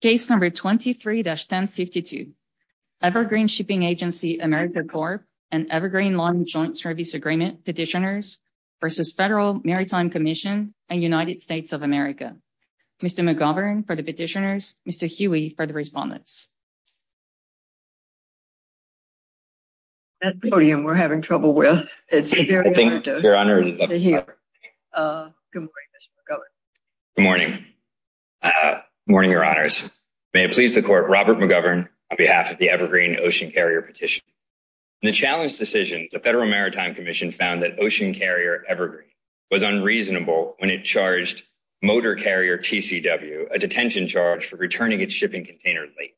Case number 23-1052. Evergreen Shipping Agency, America Corp. and Evergreen Lawn Joint Service Agreement Petitioners v. Federal Maritime Commission and United States of America. Mr. McGovern for the petitioners, Mr. Huey for the respondents. Good morning, Your Honors. May it please the Court, Robert McGovern on behalf of the Evergreen Ocean Carrier Petition. In the challenge decision, the Federal Maritime Commission found that Ocean Carrier Evergreen was unreasonable when it charged Motor Carrier TCW a detention charge for returning its shipping container late,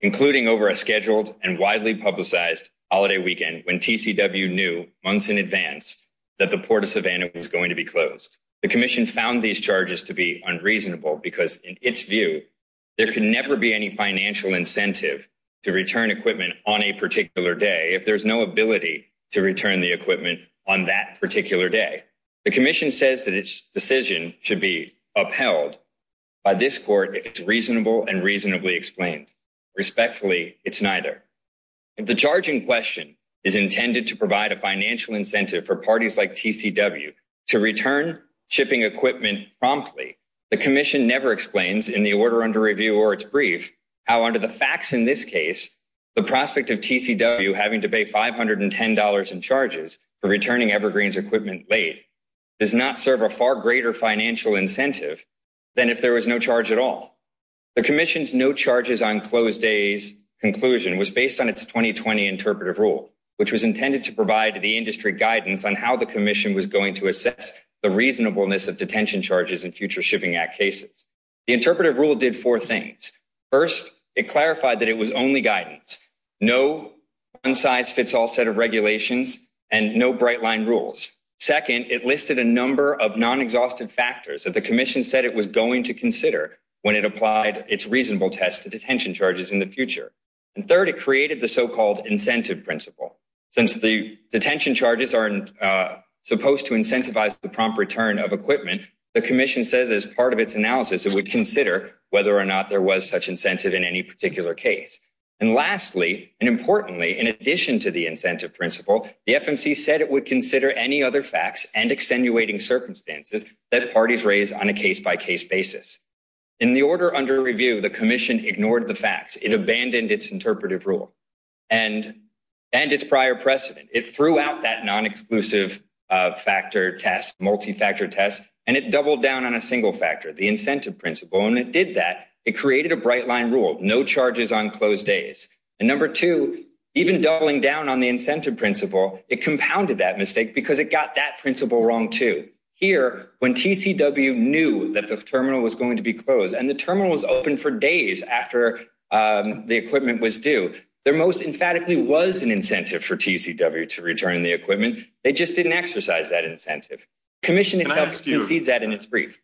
including over a scheduled and widely publicized holiday weekend when TCW knew months in advance that the Port of Savannah was going to be closed. The Commission found these charges to be unreasonable because, in its view, there could never be any financial incentive to return equipment on a particular day if there is no ability to return the equipment on that particular day. The Commission says that its decision should be upheld by this Court if it is reasonable and reasonably explained. Respectfully, it is neither. If the charge in question is intended to provide a financial incentive for parties like TCW to return shipping equipment promptly, the Commission never explains, in the order under review or its brief, how, under the facts in this case, the prospect of TCW having to pay $510 in charges for returning Evergreen's equipment late does not serve a far greater financial incentive than if there was no The Commission's no charges on closed days conclusion was based on its 2020 interpretive rule, which was intended to provide the industry guidance on how the Commission was going to assess the reasonableness of detention charges in future Shipping Act cases. The interpretive rule did four things. First, it clarified that it was only guidance, no one-size-fits-all set of regulations, and no bright-line rules. Second, it listed a number of non-exhaustive factors that the Commission said it was going to consider when it applied its reasonable test to detention charges in the future. And third, it created the so-called incentive principle. Since the detention charges aren't supposed to incentivize the prompt return of equipment, the Commission says as part of its analysis it would consider whether or not there was such incentive in any particular case. And lastly, and importantly, in addition to the incentive principle, the FMC said it would any other facts and extenuating circumstances that parties raise on a case-by-case basis. In the order under review, the Commission ignored the facts. It abandoned its interpretive rule and its prior precedent. It threw out that non-exclusive factor test, multi-factor test, and it doubled down on a single factor, the incentive principle, and it did that. It created a bright-line rule, no charges on closed days. And number two, even doubling down the incentive principle, it compounded that mistake because it got that principle wrong too. Here, when TCW knew that the terminal was going to be closed and the terminal was open for days after the equipment was due, there most emphatically was an incentive for TCW to return the equipment. They just didn't exercise that incentive. The Commission itself concedes that in its brief.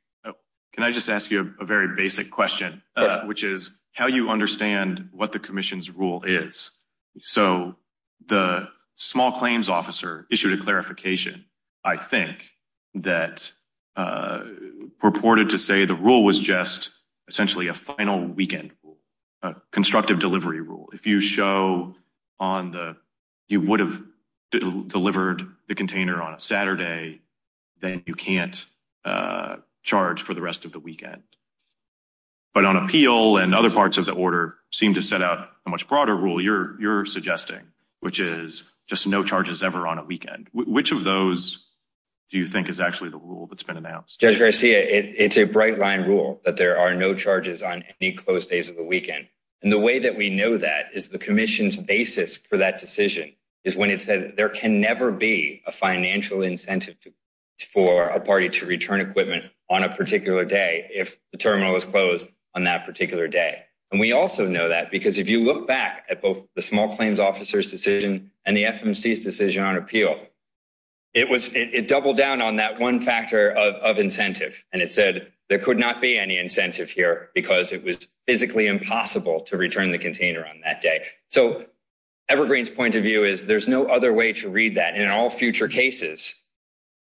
Can I just ask you a very basic question, which is how you understand what the Commission's rule is? The small claims officer issued a clarification, I think, that purported to say the rule was just essentially a final weekend rule, a constructive delivery rule. If you would have delivered the container on a Saturday, then you can't charge for the rest of the weekend. But on appeal and other parts of the order seem to set out a much broader rule you're suggesting, which is just no charges ever on a weekend. Which of those do you think is actually the rule that's been announced? Judge Garcia, it's a bright-line rule that there are no charges on any closed days of the weekend. And the way that we know that is the Commission's basis for that decision is when it said there can never be a financial incentive for a party to if the terminal is closed on that particular day. And we also know that because if you look back at both the small claims officer's decision and the FMC's decision on appeal, it doubled down on that one factor of incentive. And it said there could not be any incentive here because it was physically impossible to return the container on that day. So Evergreen's point of view is there's no other way to read that. In all future cases,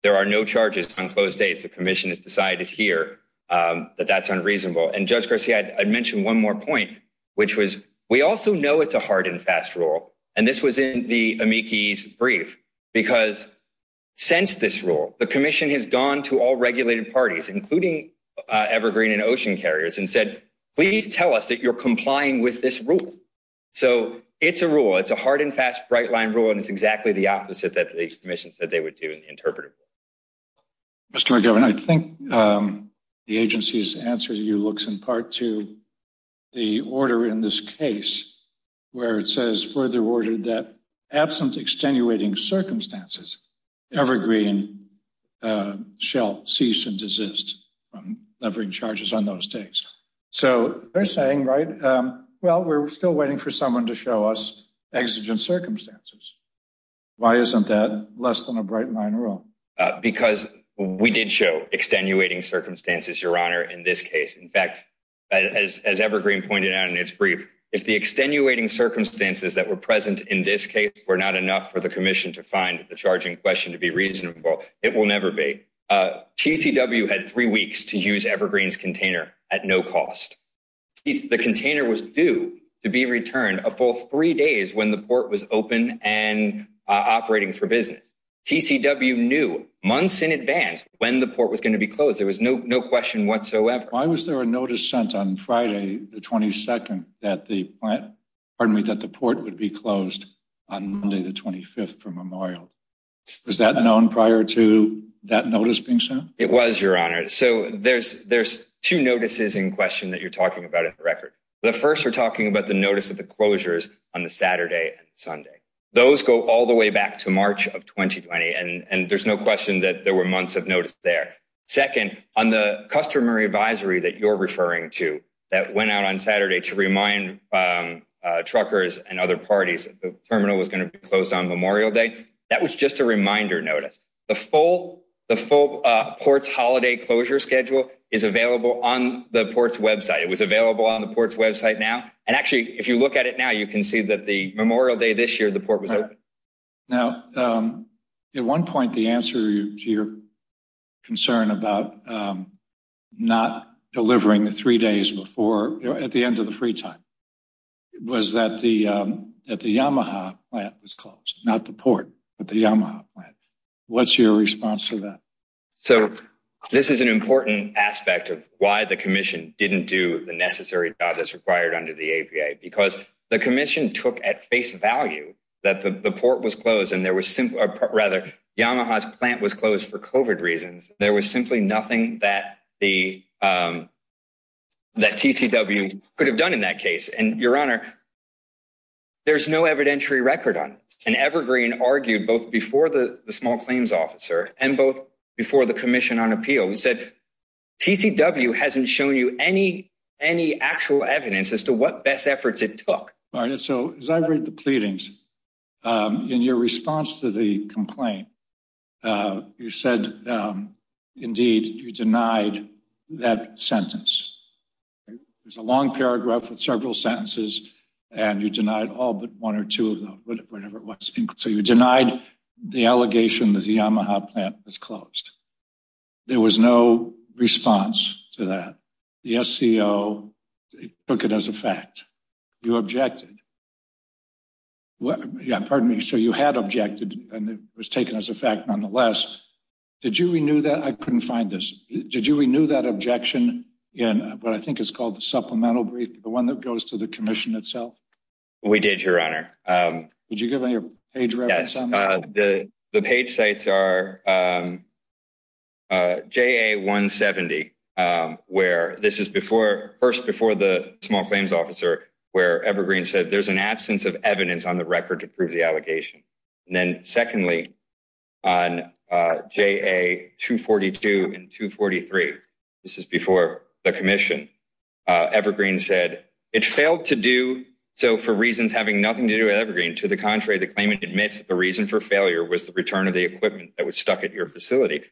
there are no charges on closed days. The Commission has that that's unreasonable. And Judge Garcia, I'd mention one more point, which was we also know it's a hard and fast rule. And this was in the amici's brief. Because since this rule, the Commission has gone to all regulated parties, including Evergreen and Ocean Carriers and said, please tell us that you're complying with this rule. So it's a rule. It's a hard and fast, bright-line rule. And it's exactly the opposite that the Commission said they would do in the agency's answer. You looks in part to the order in this case where it says further worded that absent extenuating circumstances, Evergreen shall cease and desist from levering charges on those days. So they're saying, right, well, we're still waiting for someone to show us exigent circumstances. Why isn't that less than a bright-line rule? Because we did show extenuating circumstances, Your Honor, in this case. In fact, as Evergreen pointed out in its brief, if the extenuating circumstances that were present in this case were not enough for the Commission to find the charging question to be reasonable, it will never be. TCW had three weeks to use Evergreen's container at no cost. The container was due to be returned a full three days when the port was open and operating for business. TCW knew months in advance when the port was going to be closed. There's no question whatsoever. Why was there a notice sent on Friday, the 22nd, that the port would be closed on Monday, the 25th for memorial? Was that known prior to that notice being sent? It was, Your Honor. So there's two notices in question that you're talking about in the record. The first we're talking about the notice of the closures on the Saturday and Sunday. Those go all the way back to March of 2020. And there's no question that there were months of notice there. Second, on the customary advisory that you're referring to, that went out on Saturday to remind truckers and other parties that the terminal was going to be closed on Memorial Day, that was just a reminder notice. The full port's holiday closure schedule is available on the port's website. It was available on the port's website now. And actually, if you look at it now, you can see that the Memorial Day this year, the port was open. Now, at one point, the answer to concern about not delivering the three days before, at the end of the free time, was that the Yamaha plant was closed, not the port, but the Yamaha plant. What's your response to that? So this is an important aspect of why the commission didn't do the necessary job that's required under the APA, because the commission took at face value that the port was closed and rather, Yamaha's plant was closed for COVID reasons. There was simply nothing that TCW could have done in that case. And your honor, there's no evidentiary record on it. And Evergreen argued both before the small claims officer and both before the commission on appeal. He said, TCW hasn't shown you any actual evidence as to what best efforts it took. So as I read the pleadings, in your response to the complaint, you said, indeed, you denied that sentence. There's a long paragraph with several sentences, and you denied all but one or two of them, whatever it was. So you denied the allegation that the Yamaha plant was closed. There was no response to that. The SCO took it as a fact. You objected. Yeah, pardon me. So you had objected, and it was taken as a fact nonetheless. Did you renew that? I couldn't find this. Did you renew that objection? Yeah, but I think it's called the supplemental brief, the one that goes to the commission itself. We did, your honor. Did you give me a page? The page sites are JA-170, where this is first before the small claims officer, where Evergreen said, there's an absence of evidence on the record to prove the allegation. And then secondly, on JA-242 and 243, this is before the commission, Evergreen said, it failed to do so for reasons having nothing to do with Evergreen. To the contrary, the claimant admits that the reason for failure was the return of the equipment that was stuck at your facility.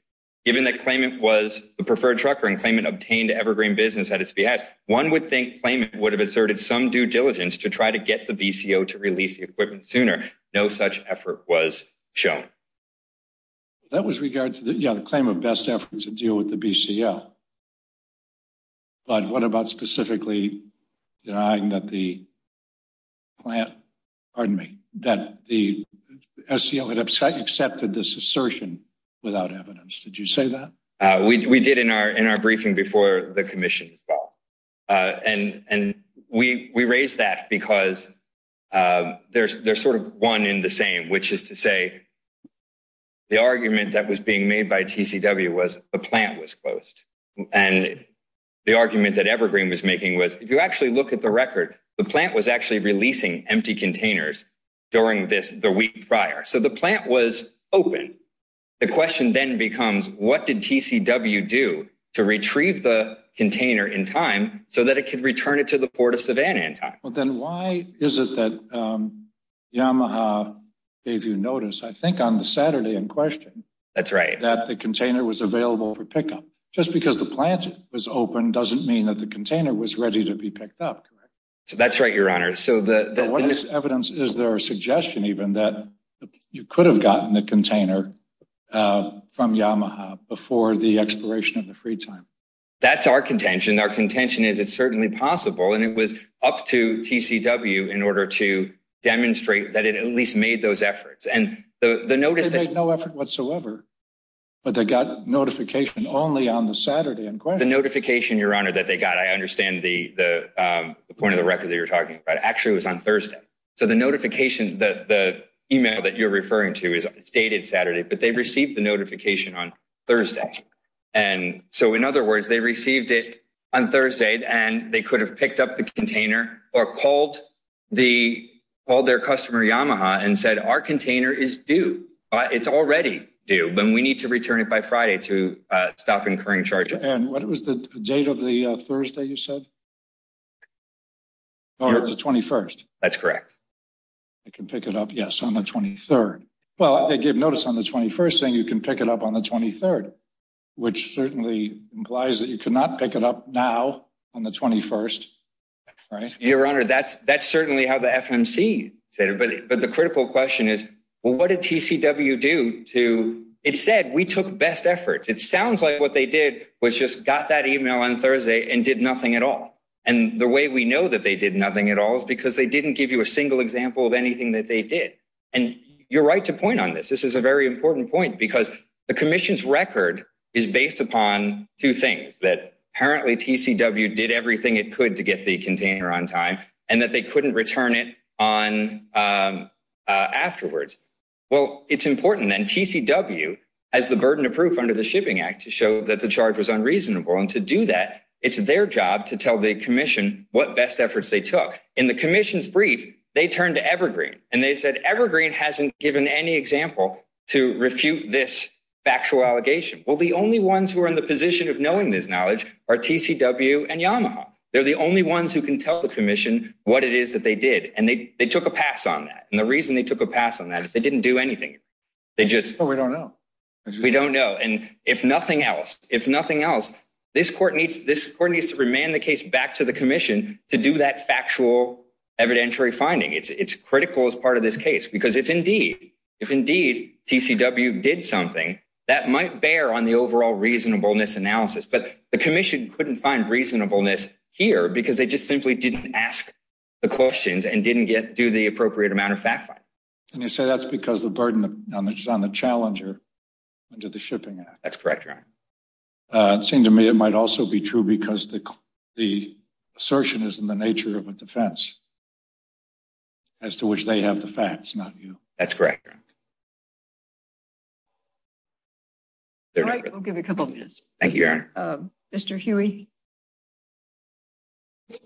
Given that claimant was the preferred trucker and claimant obtained Evergreen business at its behest, one would think claimant would have asserted some due diligence to try to get the BCO to release the equipment sooner. No such effort was shown. That was regards to the claim of best efforts to deal with the BCO. But what about specifically denying that the plant, pardon me, that the SCO had accepted this assertion without evidence? Did you say that? We did in our briefing before the commission as well. And we raised that because there's sort of one in the same, which is to say the argument that was being made by TCW was the plant was closed. And the argument that Evergreen was making was, if you actually look at the record, the plant was actually releasing empty containers during this, the week prior. So the plant was open. The question then becomes, what did TCW do to retrieve the container in time so that it could return it to the port of Savannah in time? Well, then why is it that Yamaha gave you notice, I think on the Saturday in question, that's right, that the container was available for pickup just because the plant was open doesn't mean that the container was ready to be picked up. So that's right, Your Honor. So the evidence, is there a suggestion even that you could have gotten the container from Yamaha before the expiration of the free time? That's our contention. Our contention is it's certainly possible. And it was up to TCW in order to demonstrate that it at least made those efforts. And the notice that... They made no effort whatsoever, but they got notification only on the Saturday in question. The notification, Your Honor, that they got, I understand the point of the record that you're talking about, actually was on Thursday. So the notification, the email that you're referring to is dated Saturday, but they received the notification on Thursday. And so in other words, they received it on Thursday and they could have picked up the container or called their customer Yamaha and said, our container is due. It's already due, but we need to return it by Friday to stop incurring charges. And what was the date of the Thursday you said? No, it's the 21st. That's correct. I can pick it up. Yes, on the 23rd. Well, they gave notice on the 21st saying you can pick it up on the 23rd, which certainly implies that you could not pick it up now on the 21st, right? Your Honor, that's certainly how the FMC said it. But the critical question is, well, what did TCW do to... It said we took best efforts. It sounds like what they did was just got that email on Thursday and did nothing at all. And the way we know that they did nothing at all is because they didn't give you a single example of anything that they did. And you're right to point on this. This is a very important point because the commission's record is based upon two things, that apparently TCW did everything it could to get the container on time and that they couldn't return it afterwards. Well, it's important that TCW has the burden of proof under the Shipping Act to show that the charge was unreasonable. And to do that, it's their job to tell the commission what best efforts they took. In the commission's brief, they turned to Evergreen and they said, Evergreen hasn't given any example to refute this factual allegation. Well, the only ones who are in the position of knowing this knowledge are TCW and Yamaha. They're the only ones who can tell the commission what it is that they did. And they took a pass on that. And the reason they took a pass on that is they didn't do anything. They just... Oh, we don't know. We don't know. And if nothing else, if nothing else, this court needs to remand the case back to the commission to do that factual evidentiary finding. It's critical as part of this case, because if indeed TCW did something, that might bear on the overall reasonableness analysis. But the commission couldn't find reasonableness here because they just simply didn't ask the questions and didn't do the appropriate amount of fact-finding. And you say that's because the burden is on the challenger under the Shipping Act. That's correct, Your Honor. It seemed to me it might also be true because the assertion is in the nature of a defense as to which they have the facts, not you. That's correct, Your Honor. All right. I'll give a couple of minutes. Thank you, Your Honor. Mr. Huey. Good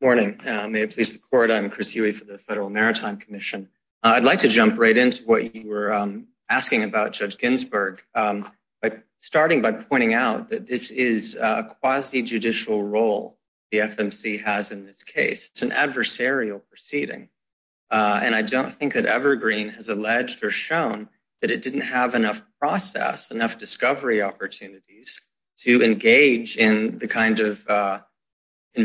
morning. May it please the court. I'm Chris Huey for the Federal Maritime Commission. I'd like to jump right into what you were asking about, Judge Ginsburg, starting by pointing out that this is a quasi-judicial role the FMC has in this case. It's an adversarial proceeding. And I don't think that Evergreen has alleged or shown that it didn't have enough process, enough discovery opportunities to engage in the kind of here and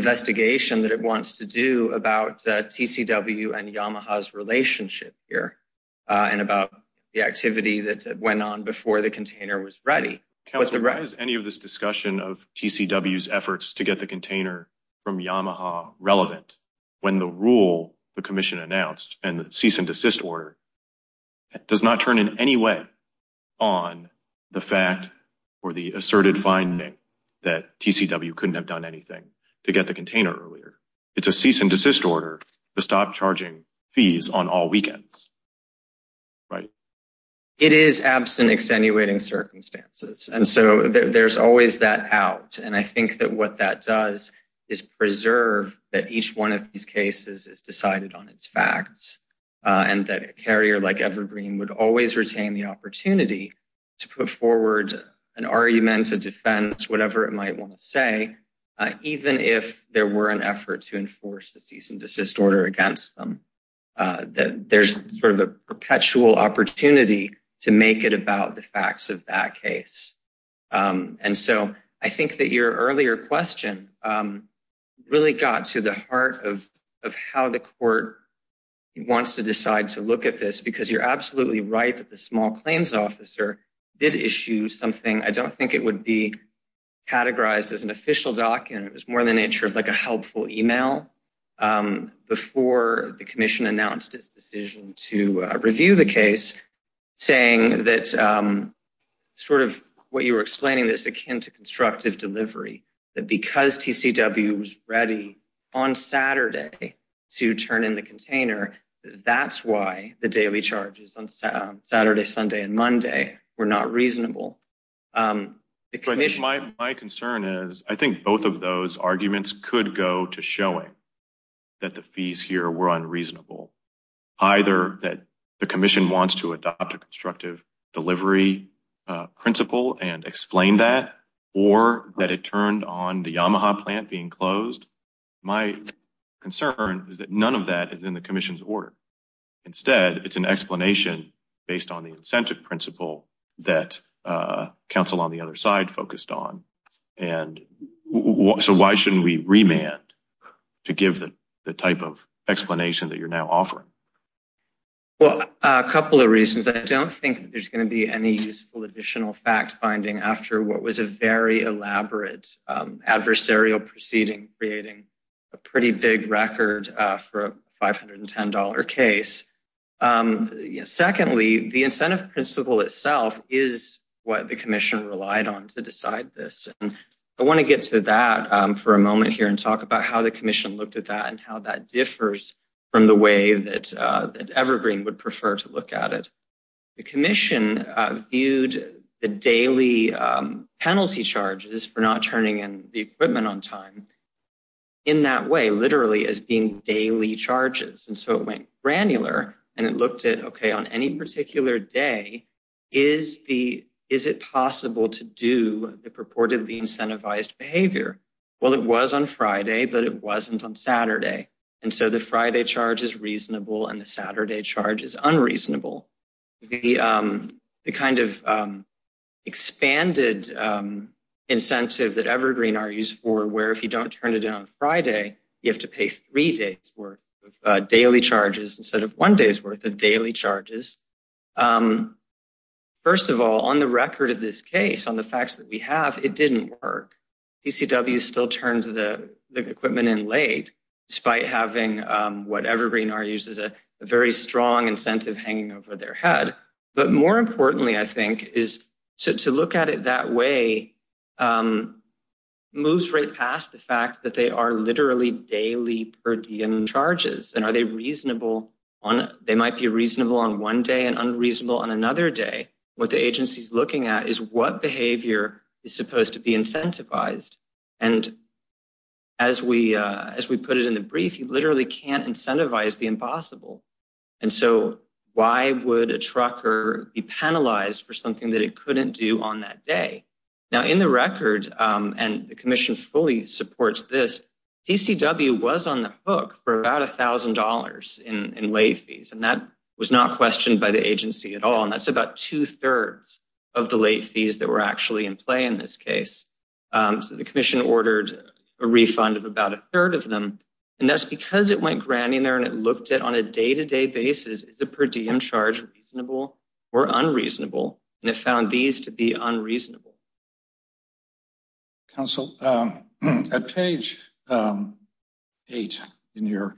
about the activity that went on before the container was ready. Counselor, why is any of this discussion of TCW's efforts to get the container from Yamaha relevant when the rule the Commission announced and the cease and desist order does not turn in any way on the fact or the asserted finding that TCW couldn't have done anything to get the container earlier? It's a cease and desist order to stop charging fees on all weekends, right? It is absent extenuating circumstances. And so there's always that out. And I think that what that does is preserve that each one of these cases is decided on its facts and that a carrier like Evergreen would always retain the opportunity to put forward an argument, a defense, whatever it might want to say, even if there were an effort to enforce the cease and that there's sort of a perpetual opportunity to make it about the facts of that case. And so I think that your earlier question really got to the heart of how the court wants to decide to look at this, because you're absolutely right that the small claims officer did issue something. I don't think it would be categorized as an official document. It was more in the nature of like a helpful email before the commission announced its decision to review the case, saying that sort of what you were explaining this akin to constructive delivery, that because TCW was ready on Saturday to turn in the container, that's why the daily charges on Saturday, Sunday, Monday were not reasonable. My concern is I think both of those arguments could go to showing that the fees here were unreasonable, either that the commission wants to adopt a constructive delivery principle and explain that or that it turned on the Yamaha plant being closed. My concern is that none of that is in the commission's order. Instead, it's an explanation based on the incentive principle that counsel on the other side focused on. And so why shouldn't we remand to give the type of explanation that you're now offering? Well, a couple of reasons. I don't think there's going to be any useful additional fact-finding after what was a very elaborate adversarial proceeding creating a pretty big record for a $110 case. Secondly, the incentive principle itself is what the commission relied on to decide this. I want to get to that for a moment here and talk about how the commission looked at that and how that differs from the way that Evergreen would prefer to look at it. The commission viewed the daily penalty charges for not turning in the equipment on time in that way, literally as being daily charges. And so it went granular and it looked at, okay, on any particular day, is it possible to do the purportedly incentivized behavior? Well, it was on Friday, but it wasn't on Saturday. And so the Friday charge is reasonable and the Saturday charge is unreasonable. The kind of expanded incentive that Evergreen argues for, where if you don't turn it in on Friday, you have to pay three days worth of daily charges instead of one day's worth of daily charges. First of all, on the record of this case, on the facts that we have, it didn't work. DCWs still turned the equipment in late, despite having what Evergreen argues is a very strong incentive hanging over their head. But more importantly, I think, is to look at it that way, moves right past the fact that they are literally daily per diem charges. And are they reasonable on, they might be reasonable on one day and unreasonable on another day. What the agency is looking at is what behavior is supposed to be incentivized. And as we put it in brief, you literally can't incentivize the impossible. And so why would a trucker be penalized for something that it couldn't do on that day? Now in the record, and the commission fully supports this, DCW was on the hook for about $1,000 in late fees. And that was not questioned by the agency at all. And that's about two thirds of the late fees that were actually in play in this case. So the commission ordered a refund of about a third of them. And that's because it went grand in there and it looked at on a day-to-day basis, is a per diem charge reasonable or unreasonable? And it found these to be unreasonable. Counsel, at page eight in your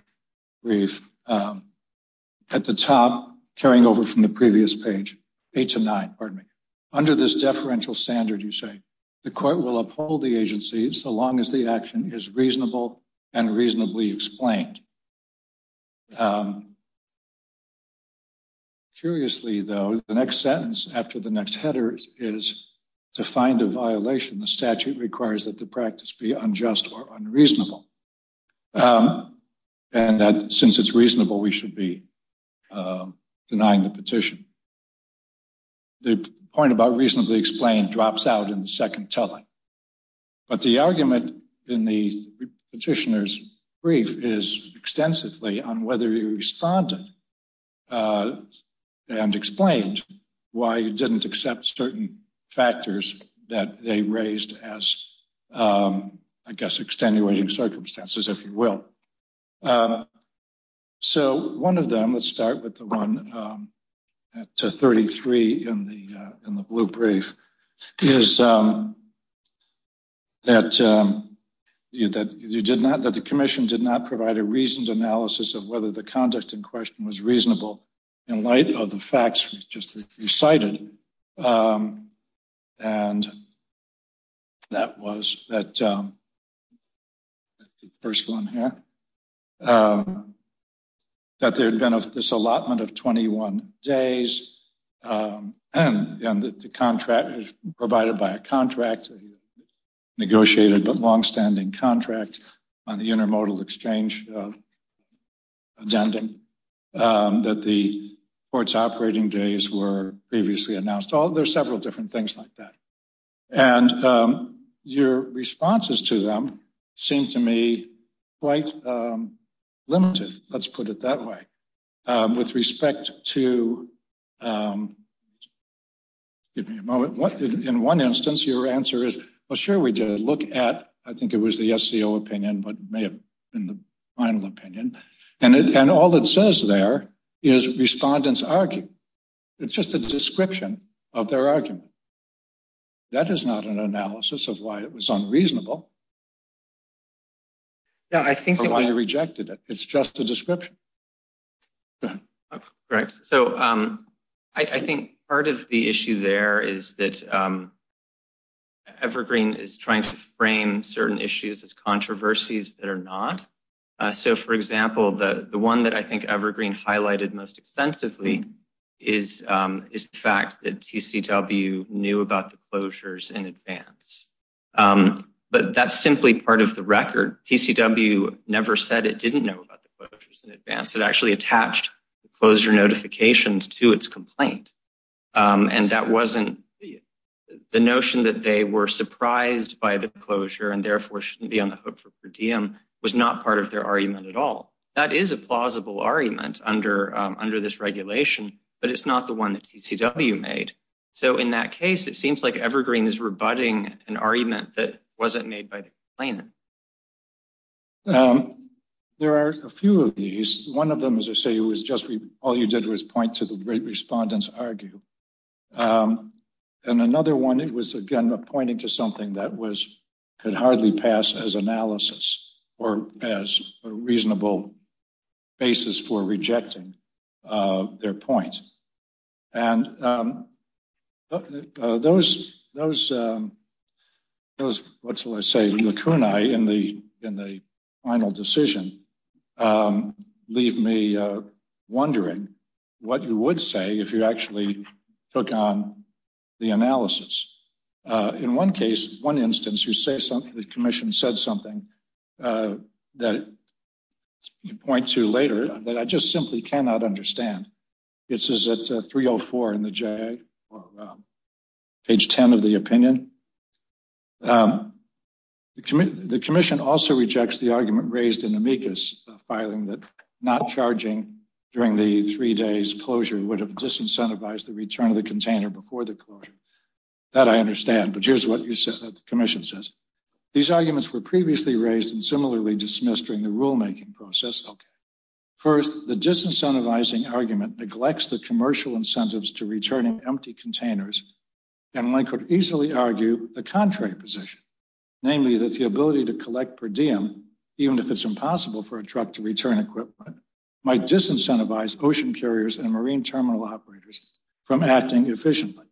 brief, at the top, carrying over from the previous page, eight to nine, pardon me. Under this deferential standard, you say, the court will uphold the agency so long as the action is reasonable and reasonably explained. Curiously though, the next sentence after the next header is to find a violation. The statute requires that the practice be unjust or unreasonable. And that since it's reasonable, we should be the petition. The point about reasonably explained drops out in the second telling. But the argument in the petitioner's brief is extensively on whether you responded and explained why you didn't accept certain factors that they raised as, I guess, extenuating circumstances, if you will. So one of them, let's start with the one at 33 in the blue brief, is that the commission did not provide a reasoned analysis of whether the conduct in question was reasonable in light of the facts just as you cited. And that was that first one here. That there had been this allotment of 21 days, and that the contract was provided by a contract, a negotiated but longstanding contract on the intermodal exchange addendum, that the court's operating days were previously announced. There's several different things like that. And your responses to them seem to me quite limited. Let's put it that way. With respect to, give me a moment, in one instance, your answer is, well, sure we did look at, I think it was the SCO opinion, but may have been the final opinion. And all that says there is respondent's argument. It's just a description of their argument. That is not an analysis of why it was unreasonable, or why you rejected it. It's just a description. Correct. So I think part of the issue there is that Evergreen is trying to frame certain issues as controversies that are not. So for example, the one that I think Evergreen highlighted most extensively is the fact that TCW knew about the closures in advance. But that's simply part of the record. TCW never said it didn't know about the closures in advance. It actually attached the closure notifications to its complaint. And that wasn't the notion that they were surprised by the closure, and therefore shouldn't be on the hook for per diem, was not part of their argument at all. That is a plausible argument under this regulation, but it's not the one that TCW made. So in that case, it seems like Evergreen is rebutting an argument that wasn't made by the complainant. There are a few of these. One of them, as I say, was just all you did was point to the great respondents argue. And another one, it was again, pointing to something that was, could hardly pass as analysis or as a reasonable basis for rejecting their point. And those, what shall I say, lacunae in the final decision leave me wondering what you would say if you actually took on the analysis. In one case, one instance, the commission said something that you point to later that I just simply cannot understand. This is at 304 in the JAG, page 10 of the opinion. The commission also rejects the argument raised in amicus filing that not charging during the three days closure would have disincentivized the return of the container before the closure. That I understand, but here's what the commission says. These arguments were previously raised and similarly dismissed during the rulemaking process. First, the disincentivizing argument neglects the commercial incentives to returning empty containers. And I could easily argue the contrary position, namely that the ability to collect per diem, even if it's impossible for a truck to return equipment, might disincentivize ocean carriers and marine terminal operators from acting efficiently.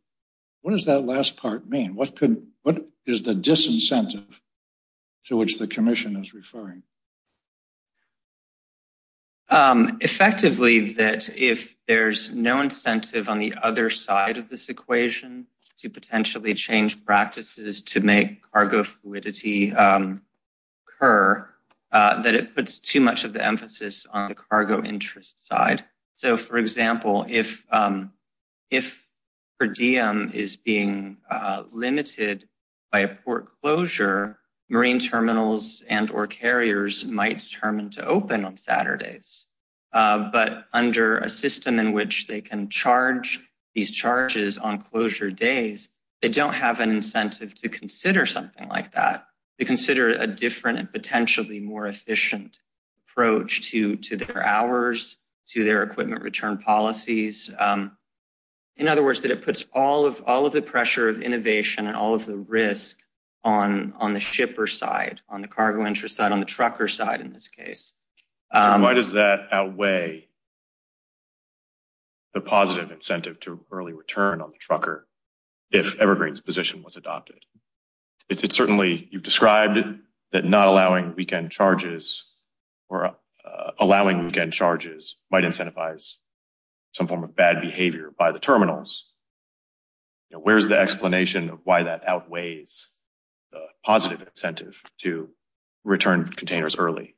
What does that last part mean? What is the disincentive to which the commission is referring? Effectively, that if there's no incentive on the other side of this equation to potentially change practices to make cargo fluidity occur, that it puts too much of the emphasis on the cargo interest side. So, for example, if per diem is being limited by a port closure, marine terminals and or carriers might determine to open on Saturdays. But under a system in which they can charge these charges on closure days, they don't have an incentive to consider something like that, to consider a different and potentially more efficient approach to their hours, to their equipment return policies. In other words, that it puts all of the pressure of innovation and all of the risk on the shipper side, on the cargo interest side, on the trucker side in this case. Why does that outweigh the positive incentive to early return on the trucker if Evergreen's position was adopted? It's certainly, you've described that not allowing weekend charges or allowing weekend charges might incentivize some form of bad behavior by the terminals. Where's the explanation of why that outweighs the positive incentive to return containers early?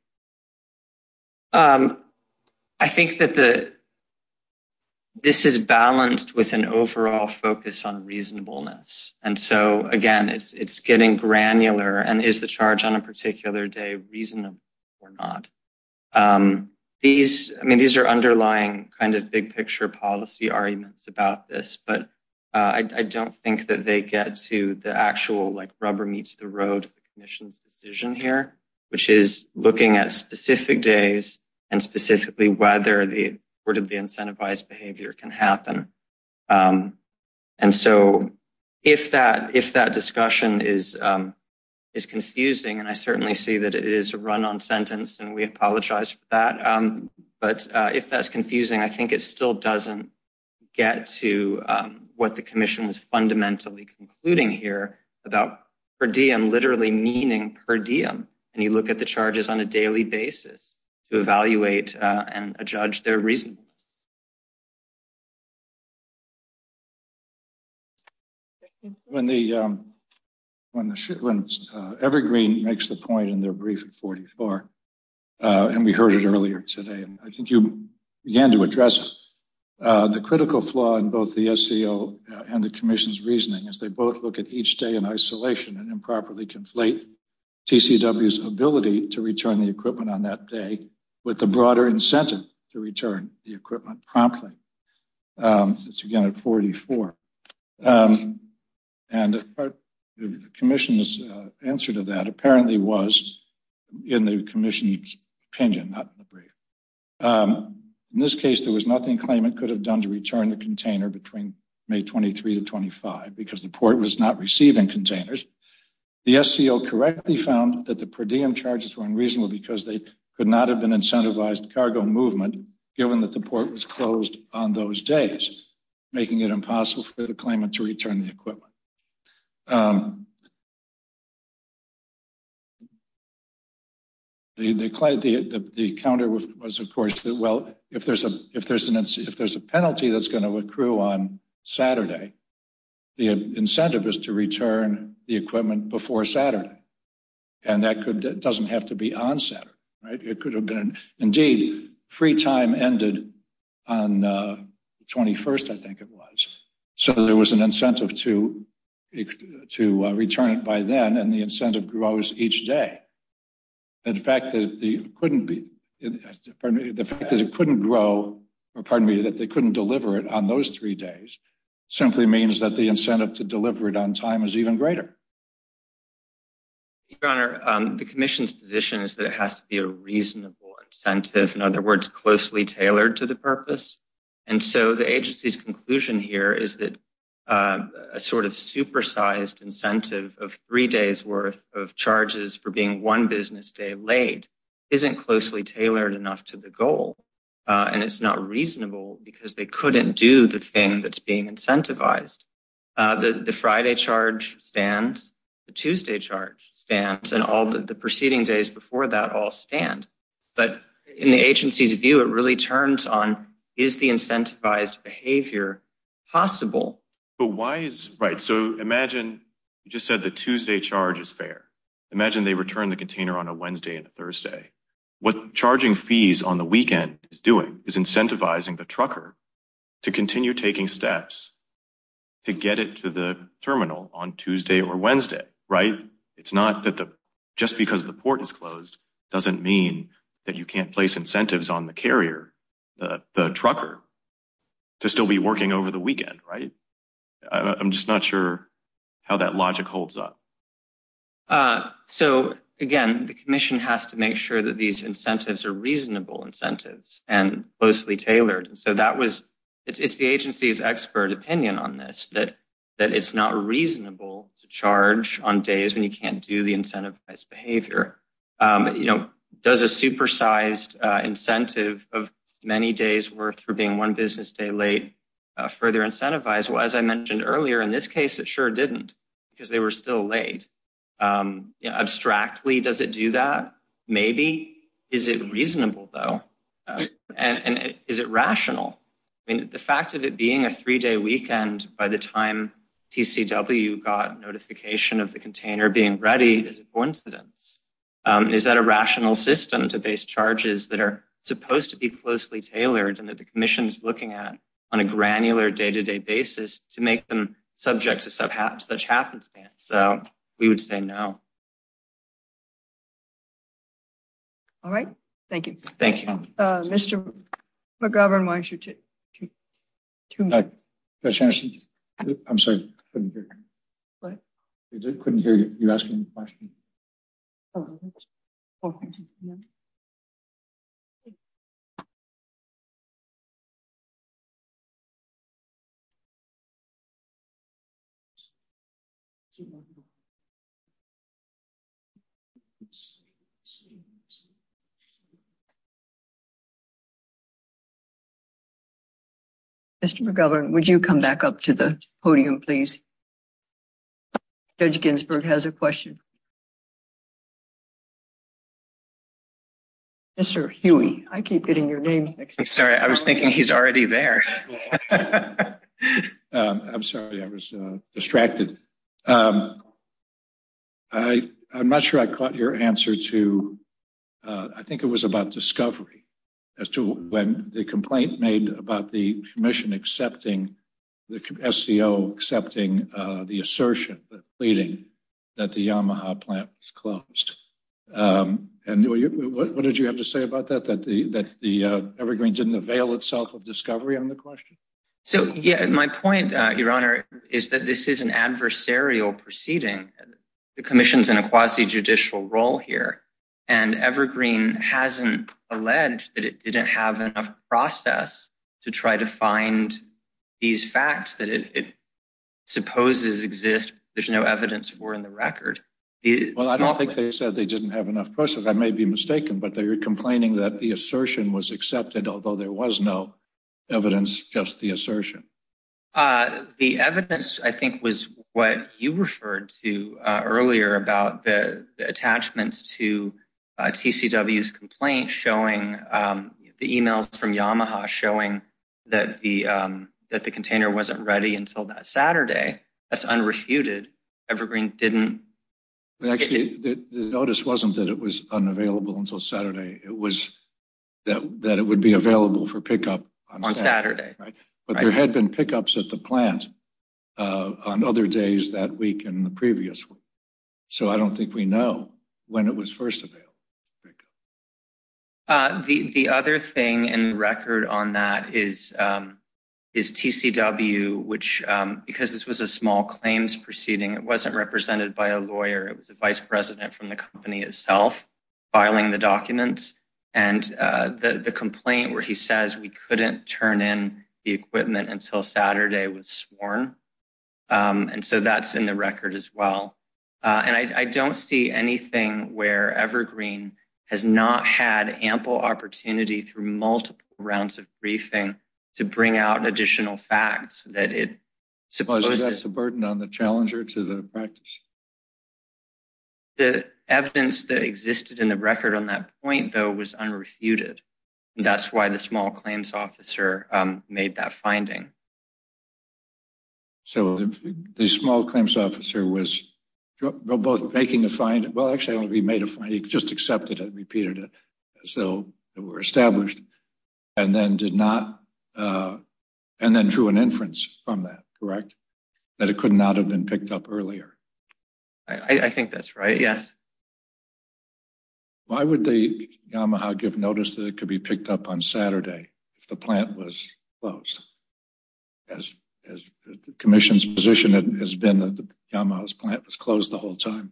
I think that this is balanced with an overall focus on reasonableness. And so, again, it's getting granular. And is the charge on a particular day reasonable or not? These, I mean, these are underlying kind of big picture policy arguments about this. But I don't think that they get to the actual like rubber meets the road of the commission's decision here, which is looking at specific days and specifically whether the incentivized behavior can happen. And so, if that discussion is confusing, and I certainly see that it is a run on sentence and we apologize for that. But if that's confusing, I think it still doesn't get to what the commission was fundamentally concluding here about per diem literally meaning per diem. And you look at the charges on a daily basis to evaluate and judge their reason. When Evergreen makes the point in their brief at 44, and we heard it earlier today, I think you began to address the critical flaw in both the SCO and the commission's reasoning as they both look at each day in isolation and improperly conflate TCW's ability to return the equipment on that day with the broader incentive to return the equipment promptly. It's again at 44. And the commission's answer to that apparently was in the commission's opinion, not the brief. In this case, there was nothing claimant could have done to return the container between May 23 to 25 because the port was not receiving containers. The SCO correctly found that the per diem charges were unreasonable because they could not have been incentivized cargo movement given that the port was closed on those days, making it impossible for the claimant to return the equipment. The client, the counter was of course, well, if there's a penalty that's going to accrue on Saturday, the incentive is to return the equipment before Saturday. And that doesn't have to be on Saturday, right? It could have been, indeed, free time ended on the 21st, I think it was. So there was an incentive to return it by then and the incentive grows each day. And the fact that it couldn't grow, or pardon me, that they couldn't deliver it on those three days simply means that the incentive to deliver it on time is even greater. Your Honor, the commission's position is that it has to be a reasonable incentive, in other words, closely tailored to the purpose. And so the agency's conclusion here is that a sort of supersized incentive of three days worth of charges for being one business day laid isn't closely tailored enough to the goal. And it's not reasonable because they couldn't do the thing that's being incentivized. The Friday charge stands, the Tuesday charge stands, and all the preceding days before that all stand. But in the agency's view, it really turns on, is the incentivized behavior possible? So imagine you just said the Tuesday charge is fair. Imagine they return the container on a Wednesday and a Thursday. What charging fees on the weekend is doing is incentivizing the trucker to continue taking steps to get it to the terminal on Tuesday or Wednesday, right? It's not that just because the port is closed doesn't mean that you can't incentivize on the carrier, the trucker, to still be working over the weekend, right? I'm just not sure how that logic holds up. So again, the commission has to make sure that these incentives are reasonable incentives and closely tailored. So that was, it's the agency's expert opinion on this, that it's not reasonable to charge on days when you can't do the incentivized behavior. Does a supersized incentive of many days worth for being one business day late further incentivize? Well, as I mentioned earlier, in this case, it sure didn't because they were still late. Abstractly, does it do that? Maybe. Is it reasonable though? And is it rational? I mean, the fact of it being a three-day weekend by the time TCW got notification of the container being ready is a coincidence. Is that a rational system to base charges that are supposed to be closely tailored and that the commission is looking at on a granular day-to-day basis to make them subject to such happenstance? So we would say no. All right. Thank you. Thank you. Mr. McGovern, why don't you take two more? Judge Anderson, I'm sorry, I couldn't hear you. What? I couldn't hear you asking the question. Oh, okay. Mr. McGovern, would you come back up to the podium, please? Judge Ginsburg has a question. Mr. Huey, I keep getting your name next to me. Sorry, I was thinking he's already there. I'm sorry, I was distracted. I'm not sure I caught your answer to, I think it was about discovery as to when the complaint made about the commission accepting the SCO accepting the pleading that the Yamaha plant was closed. And what did you have to say about that, that the Evergreen didn't avail itself of discovery on the question? So, yeah, my point, Your Honor, is that this is an adversarial proceeding. The commission's in a quasi-judicial role here. And Evergreen hasn't alleged that it didn't have enough process to try to find these facts that it supposes exist. There's no evidence for in the record. Well, I don't think they said they didn't have enough process. I may be mistaken, but they were complaining that the assertion was accepted, although there was no evidence, just the assertion. The evidence, I think, was what you referred to earlier about the attachments to TCW's complaint showing the emails from Yamaha showing that the container wasn't ready until that Saturday. That's unrefuted. Evergreen didn't. Actually, the notice wasn't that it was unavailable until Saturday. It was that it would be available for pickup on Saturday. But there had been pickups at the plant on other days that week and the previous week. So I don't think we know when it was first available. The other thing in record on that is TCW, which, because this was a small claims proceeding, it wasn't represented by a lawyer. It was a vice president from the company itself filing the documents. And the complaint where he says we couldn't turn in the equipment until Saturday was sworn. And so that's in the record as well. And I don't see anything where Evergreen has not had ample opportunity through multiple rounds of briefing to bring out additional facts. The evidence that existed in the record on that point, though, was unrefuted. That's why the small claims officer made that finding. So the small claims officer was both making a fine. Well, actually, he made a fine. He just accepted it, repeated it. So it were established and then did not. And then drew an inference from that, correct? That it could not have been picked up earlier. I think that's right. Yes. Why would the Yamaha give notice that it could be picked up on Saturday if the plant was closed? As the commission's position has been that the Yamaha's plant was closed the whole time.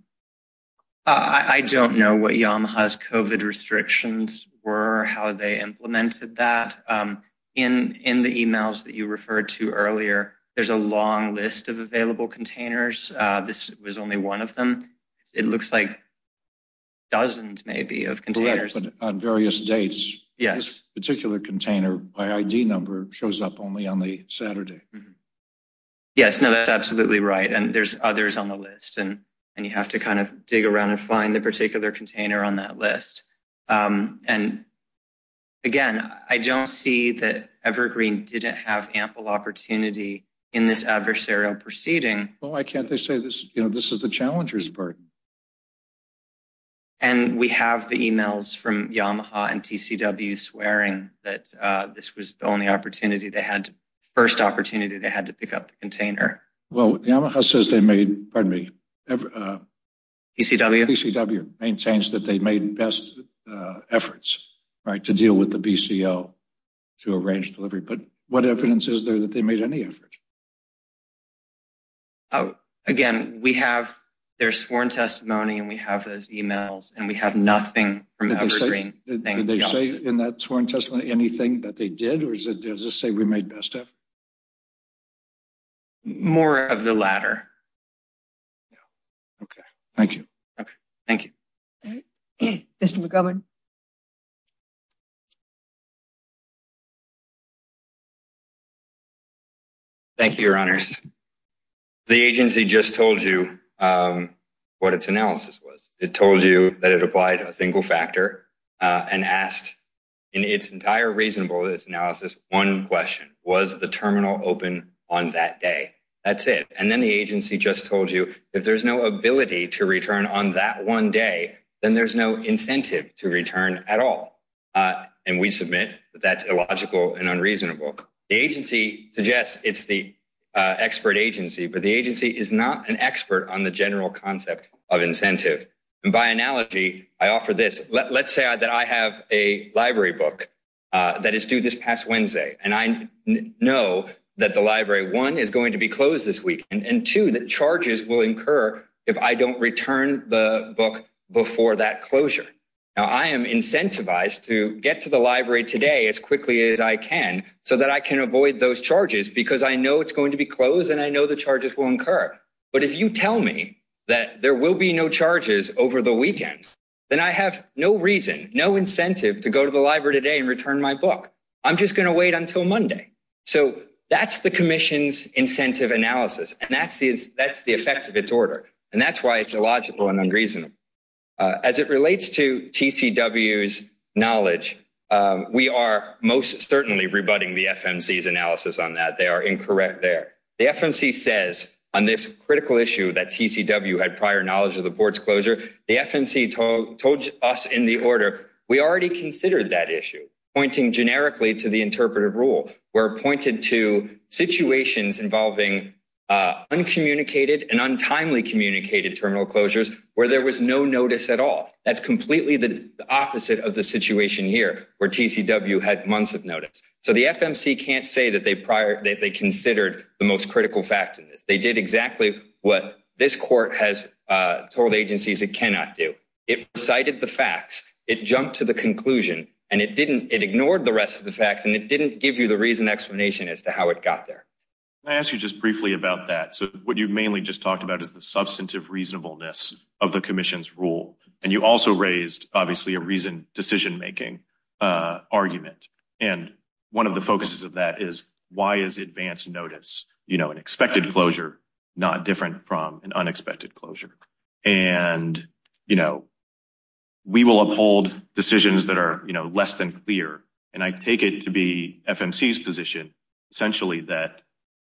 I don't know what Yamaha's COVID restrictions were, how they implemented that. In the emails that you referred to earlier, there's a long list of available containers. This was only one of them. It looks like dozens maybe of containers. On various dates. Yes. This particular container by ID number shows up only on the Saturday. Yes. No, that's absolutely right. And there's others on the list. And you have to kind of dig around and find the particular container on that list. And again, I don't see that Evergreen didn't have ample opportunity in this adversarial proceeding. Well, why can't they say this, you know, this is the challenger's burden. And we have the emails from Yamaha and TCW swearing that this was the only opportunity they had, first opportunity they had to pick up the container. Well, Yamaha says they made, pardon me, TCW maintains that they made best efforts, right, to deal with the BCO to arrange delivery. But what evidence is there that they made any effort? Oh, again, we have their sworn testimony and we have those emails and we have nothing from Evergreen. Did they say in that sworn testimony anything that they did or does it say we made best of? More of the latter. Yeah. Okay. Thank you. Okay. Thank you. Mr. McGovern. Thank you, your honors. The agency just told you what its analysis was. It told you that it applied to a single factor and asked in its entire reasonableness analysis, one question, was the terminal open on that day? That's it. And then the agency just told you if there's no ability to return on that one day, then there's no incentive to return at all. And we submit that's illogical and unreasonable. The agency suggests it's the expert agency, but the agency is not an expert on the general concept of incentive. And by analogy, I offer this. Let's say that I have a library book that is due this past Wednesday. And I know that the if I don't return the book before that closure. Now, I am incentivized to get to the library today as quickly as I can so that I can avoid those charges because I know it's going to be closed and I know the charges will incur. But if you tell me that there will be no charges over the weekend, then I have no reason, no incentive to go to the library today and return my book. I'm just going to wait until Monday. So that's the commission's incentive analysis. And that's the effect of its order. And that's why it's illogical and unreasonable. As it relates to TCW's knowledge, we are most certainly rebutting the FMC's analysis on that. They are incorrect there. The FMC says on this critical issue that TCW had prior knowledge of the board's closure, the FMC told us in the order, we already considered that issue, pointing generically to the interpretive rule, where it pointed to situations involving uncommunicated and untimely communicated terminal closures where there was no notice at all. That's completely the opposite of the situation here, where TCW had months of notice. So the FMC can't say that they prior, that they considered the most critical fact in this. They did exactly what this court has told agencies it cannot do. It recited the facts, it jumped to the conclusion, and it didn't, it ignored the rest of the facts, and it didn't give you the reason explanation as to how it got there. Can I ask you just briefly about that? So what you mainly just talked about is the substantive reasonableness of the commission's rule. And you also raised, obviously, a reason decision-making argument. And one of the focuses of that is, why is advance notice, you know, an expected closure not different from an unexpected closure? And, you know, we will uphold decisions that are, you know, less than clear. And I take it to be FMC's position, essentially, that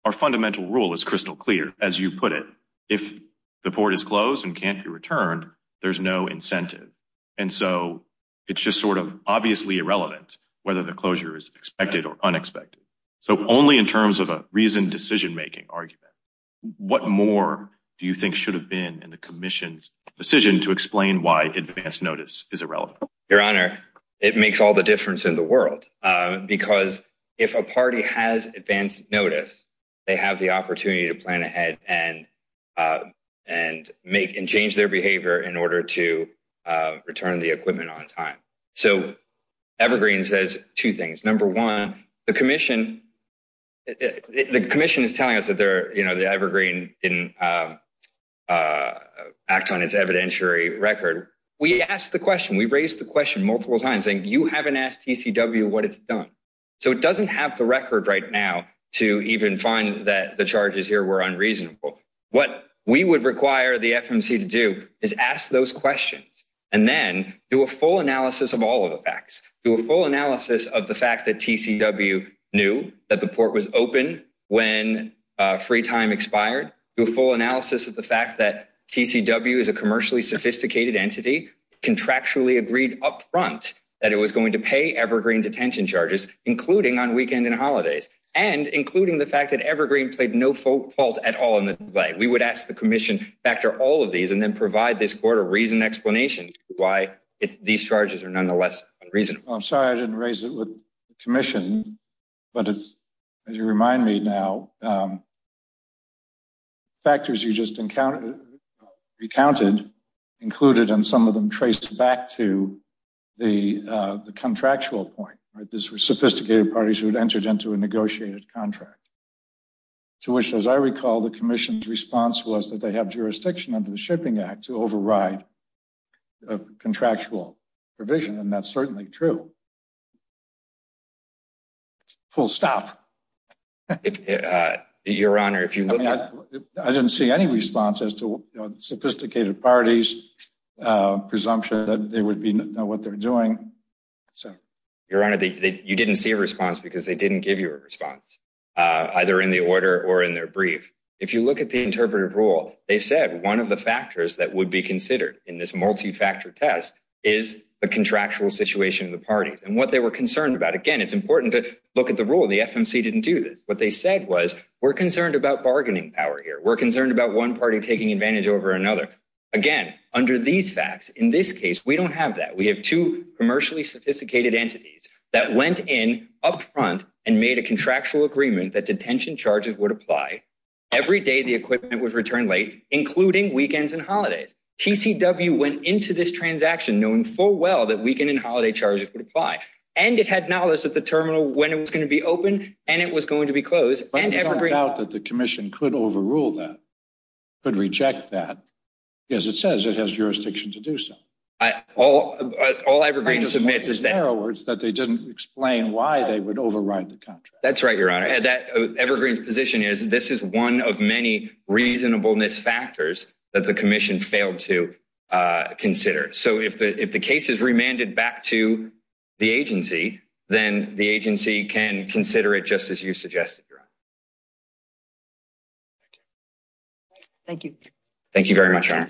our fundamental rule is crystal clear, as you put it. If the port is closed and can't be returned, there's no incentive. And so it's just sort of obviously irrelevant whether the closure is expected or unexpected. So only in terms of a reasoned decision-making argument, what more do you think should have been in the commission's decision to explain why advance notice is irrelevant? Your Honor, it makes all the difference in the world. Because if a party has advance notice, they have the opportunity to plan ahead and change their behavior in order to return the equipment on time. So Evergreen says two things. Number one, the commission is telling us that Evergreen didn't act on its evidentiary record. We asked the question, we raised the question multiple times, saying you haven't asked TCW what it's done. So it doesn't have the record right now to even find that the charges here were unreasonable. What we would require the FMC to do is ask those questions and then do a full analysis of all of the facts, do a full analysis of the fact that TCW knew that the port was open when free time expired, do a full analysis of the fact that TCW is a commercially sophisticated entity, contractually agreed up front that it was going to pay Evergreen detention charges, including on weekend and holidays, and including the fact that Evergreen played no fault at all in the delay. We would ask the commission to factor all of these and then provide this court a reasoned explanation why these charges are nonetheless unreasonable. I'm sorry I didn't raise it with the commission, but as you remind me now, factors you just recounted included and some of them traced back to the contractual point. These were sophisticated parties who had entered into a negotiated contract, to which, as I recall, the commission's response was that they have jurisdiction under the Shipping Act to override a contractual provision, and that's certainly true. Full stop. Your Honor, if you look at... I didn't see any response as to sophisticated parties' presumption that they would know what they're doing. Your Honor, you didn't see a response because they didn't give you a response, either in the order or in their brief. If you look at the interpretive rule, they said one of the factors that would be considered in this multi-factor test is the contractual situation of the parties and what they were concerned about. Again, it's important to look at the rule. The FMC didn't do this. What they said was, we're concerned about bargaining power here. We're concerned about one party taking advantage over another. Again, under these facts, in this case, we don't have that. We have two commercially sophisticated entities that went in up front and made a contractual agreement that detention charges would apply every day the equipment would return late, including weekends and holidays. TCW went into this transaction knowing full well that weekend and holiday charges would apply, and it had knowledge of the terminal, when it was going to be open, and it was going to be closed. But I don't doubt that the Commission could overrule that, could reject that. Yes, it says it has jurisdiction to do so. All Evergreen submits is narrow words that they didn't explain why they would override the contract. That's right, Your Honor. Evergreen's position is this is one of many reasonableness factors that the Commission failed to consider. So if the case is remanded back to the agency, then the agency can consider it just as you suggested, Your Honor. Thank you. Thank you very much, Your Honor.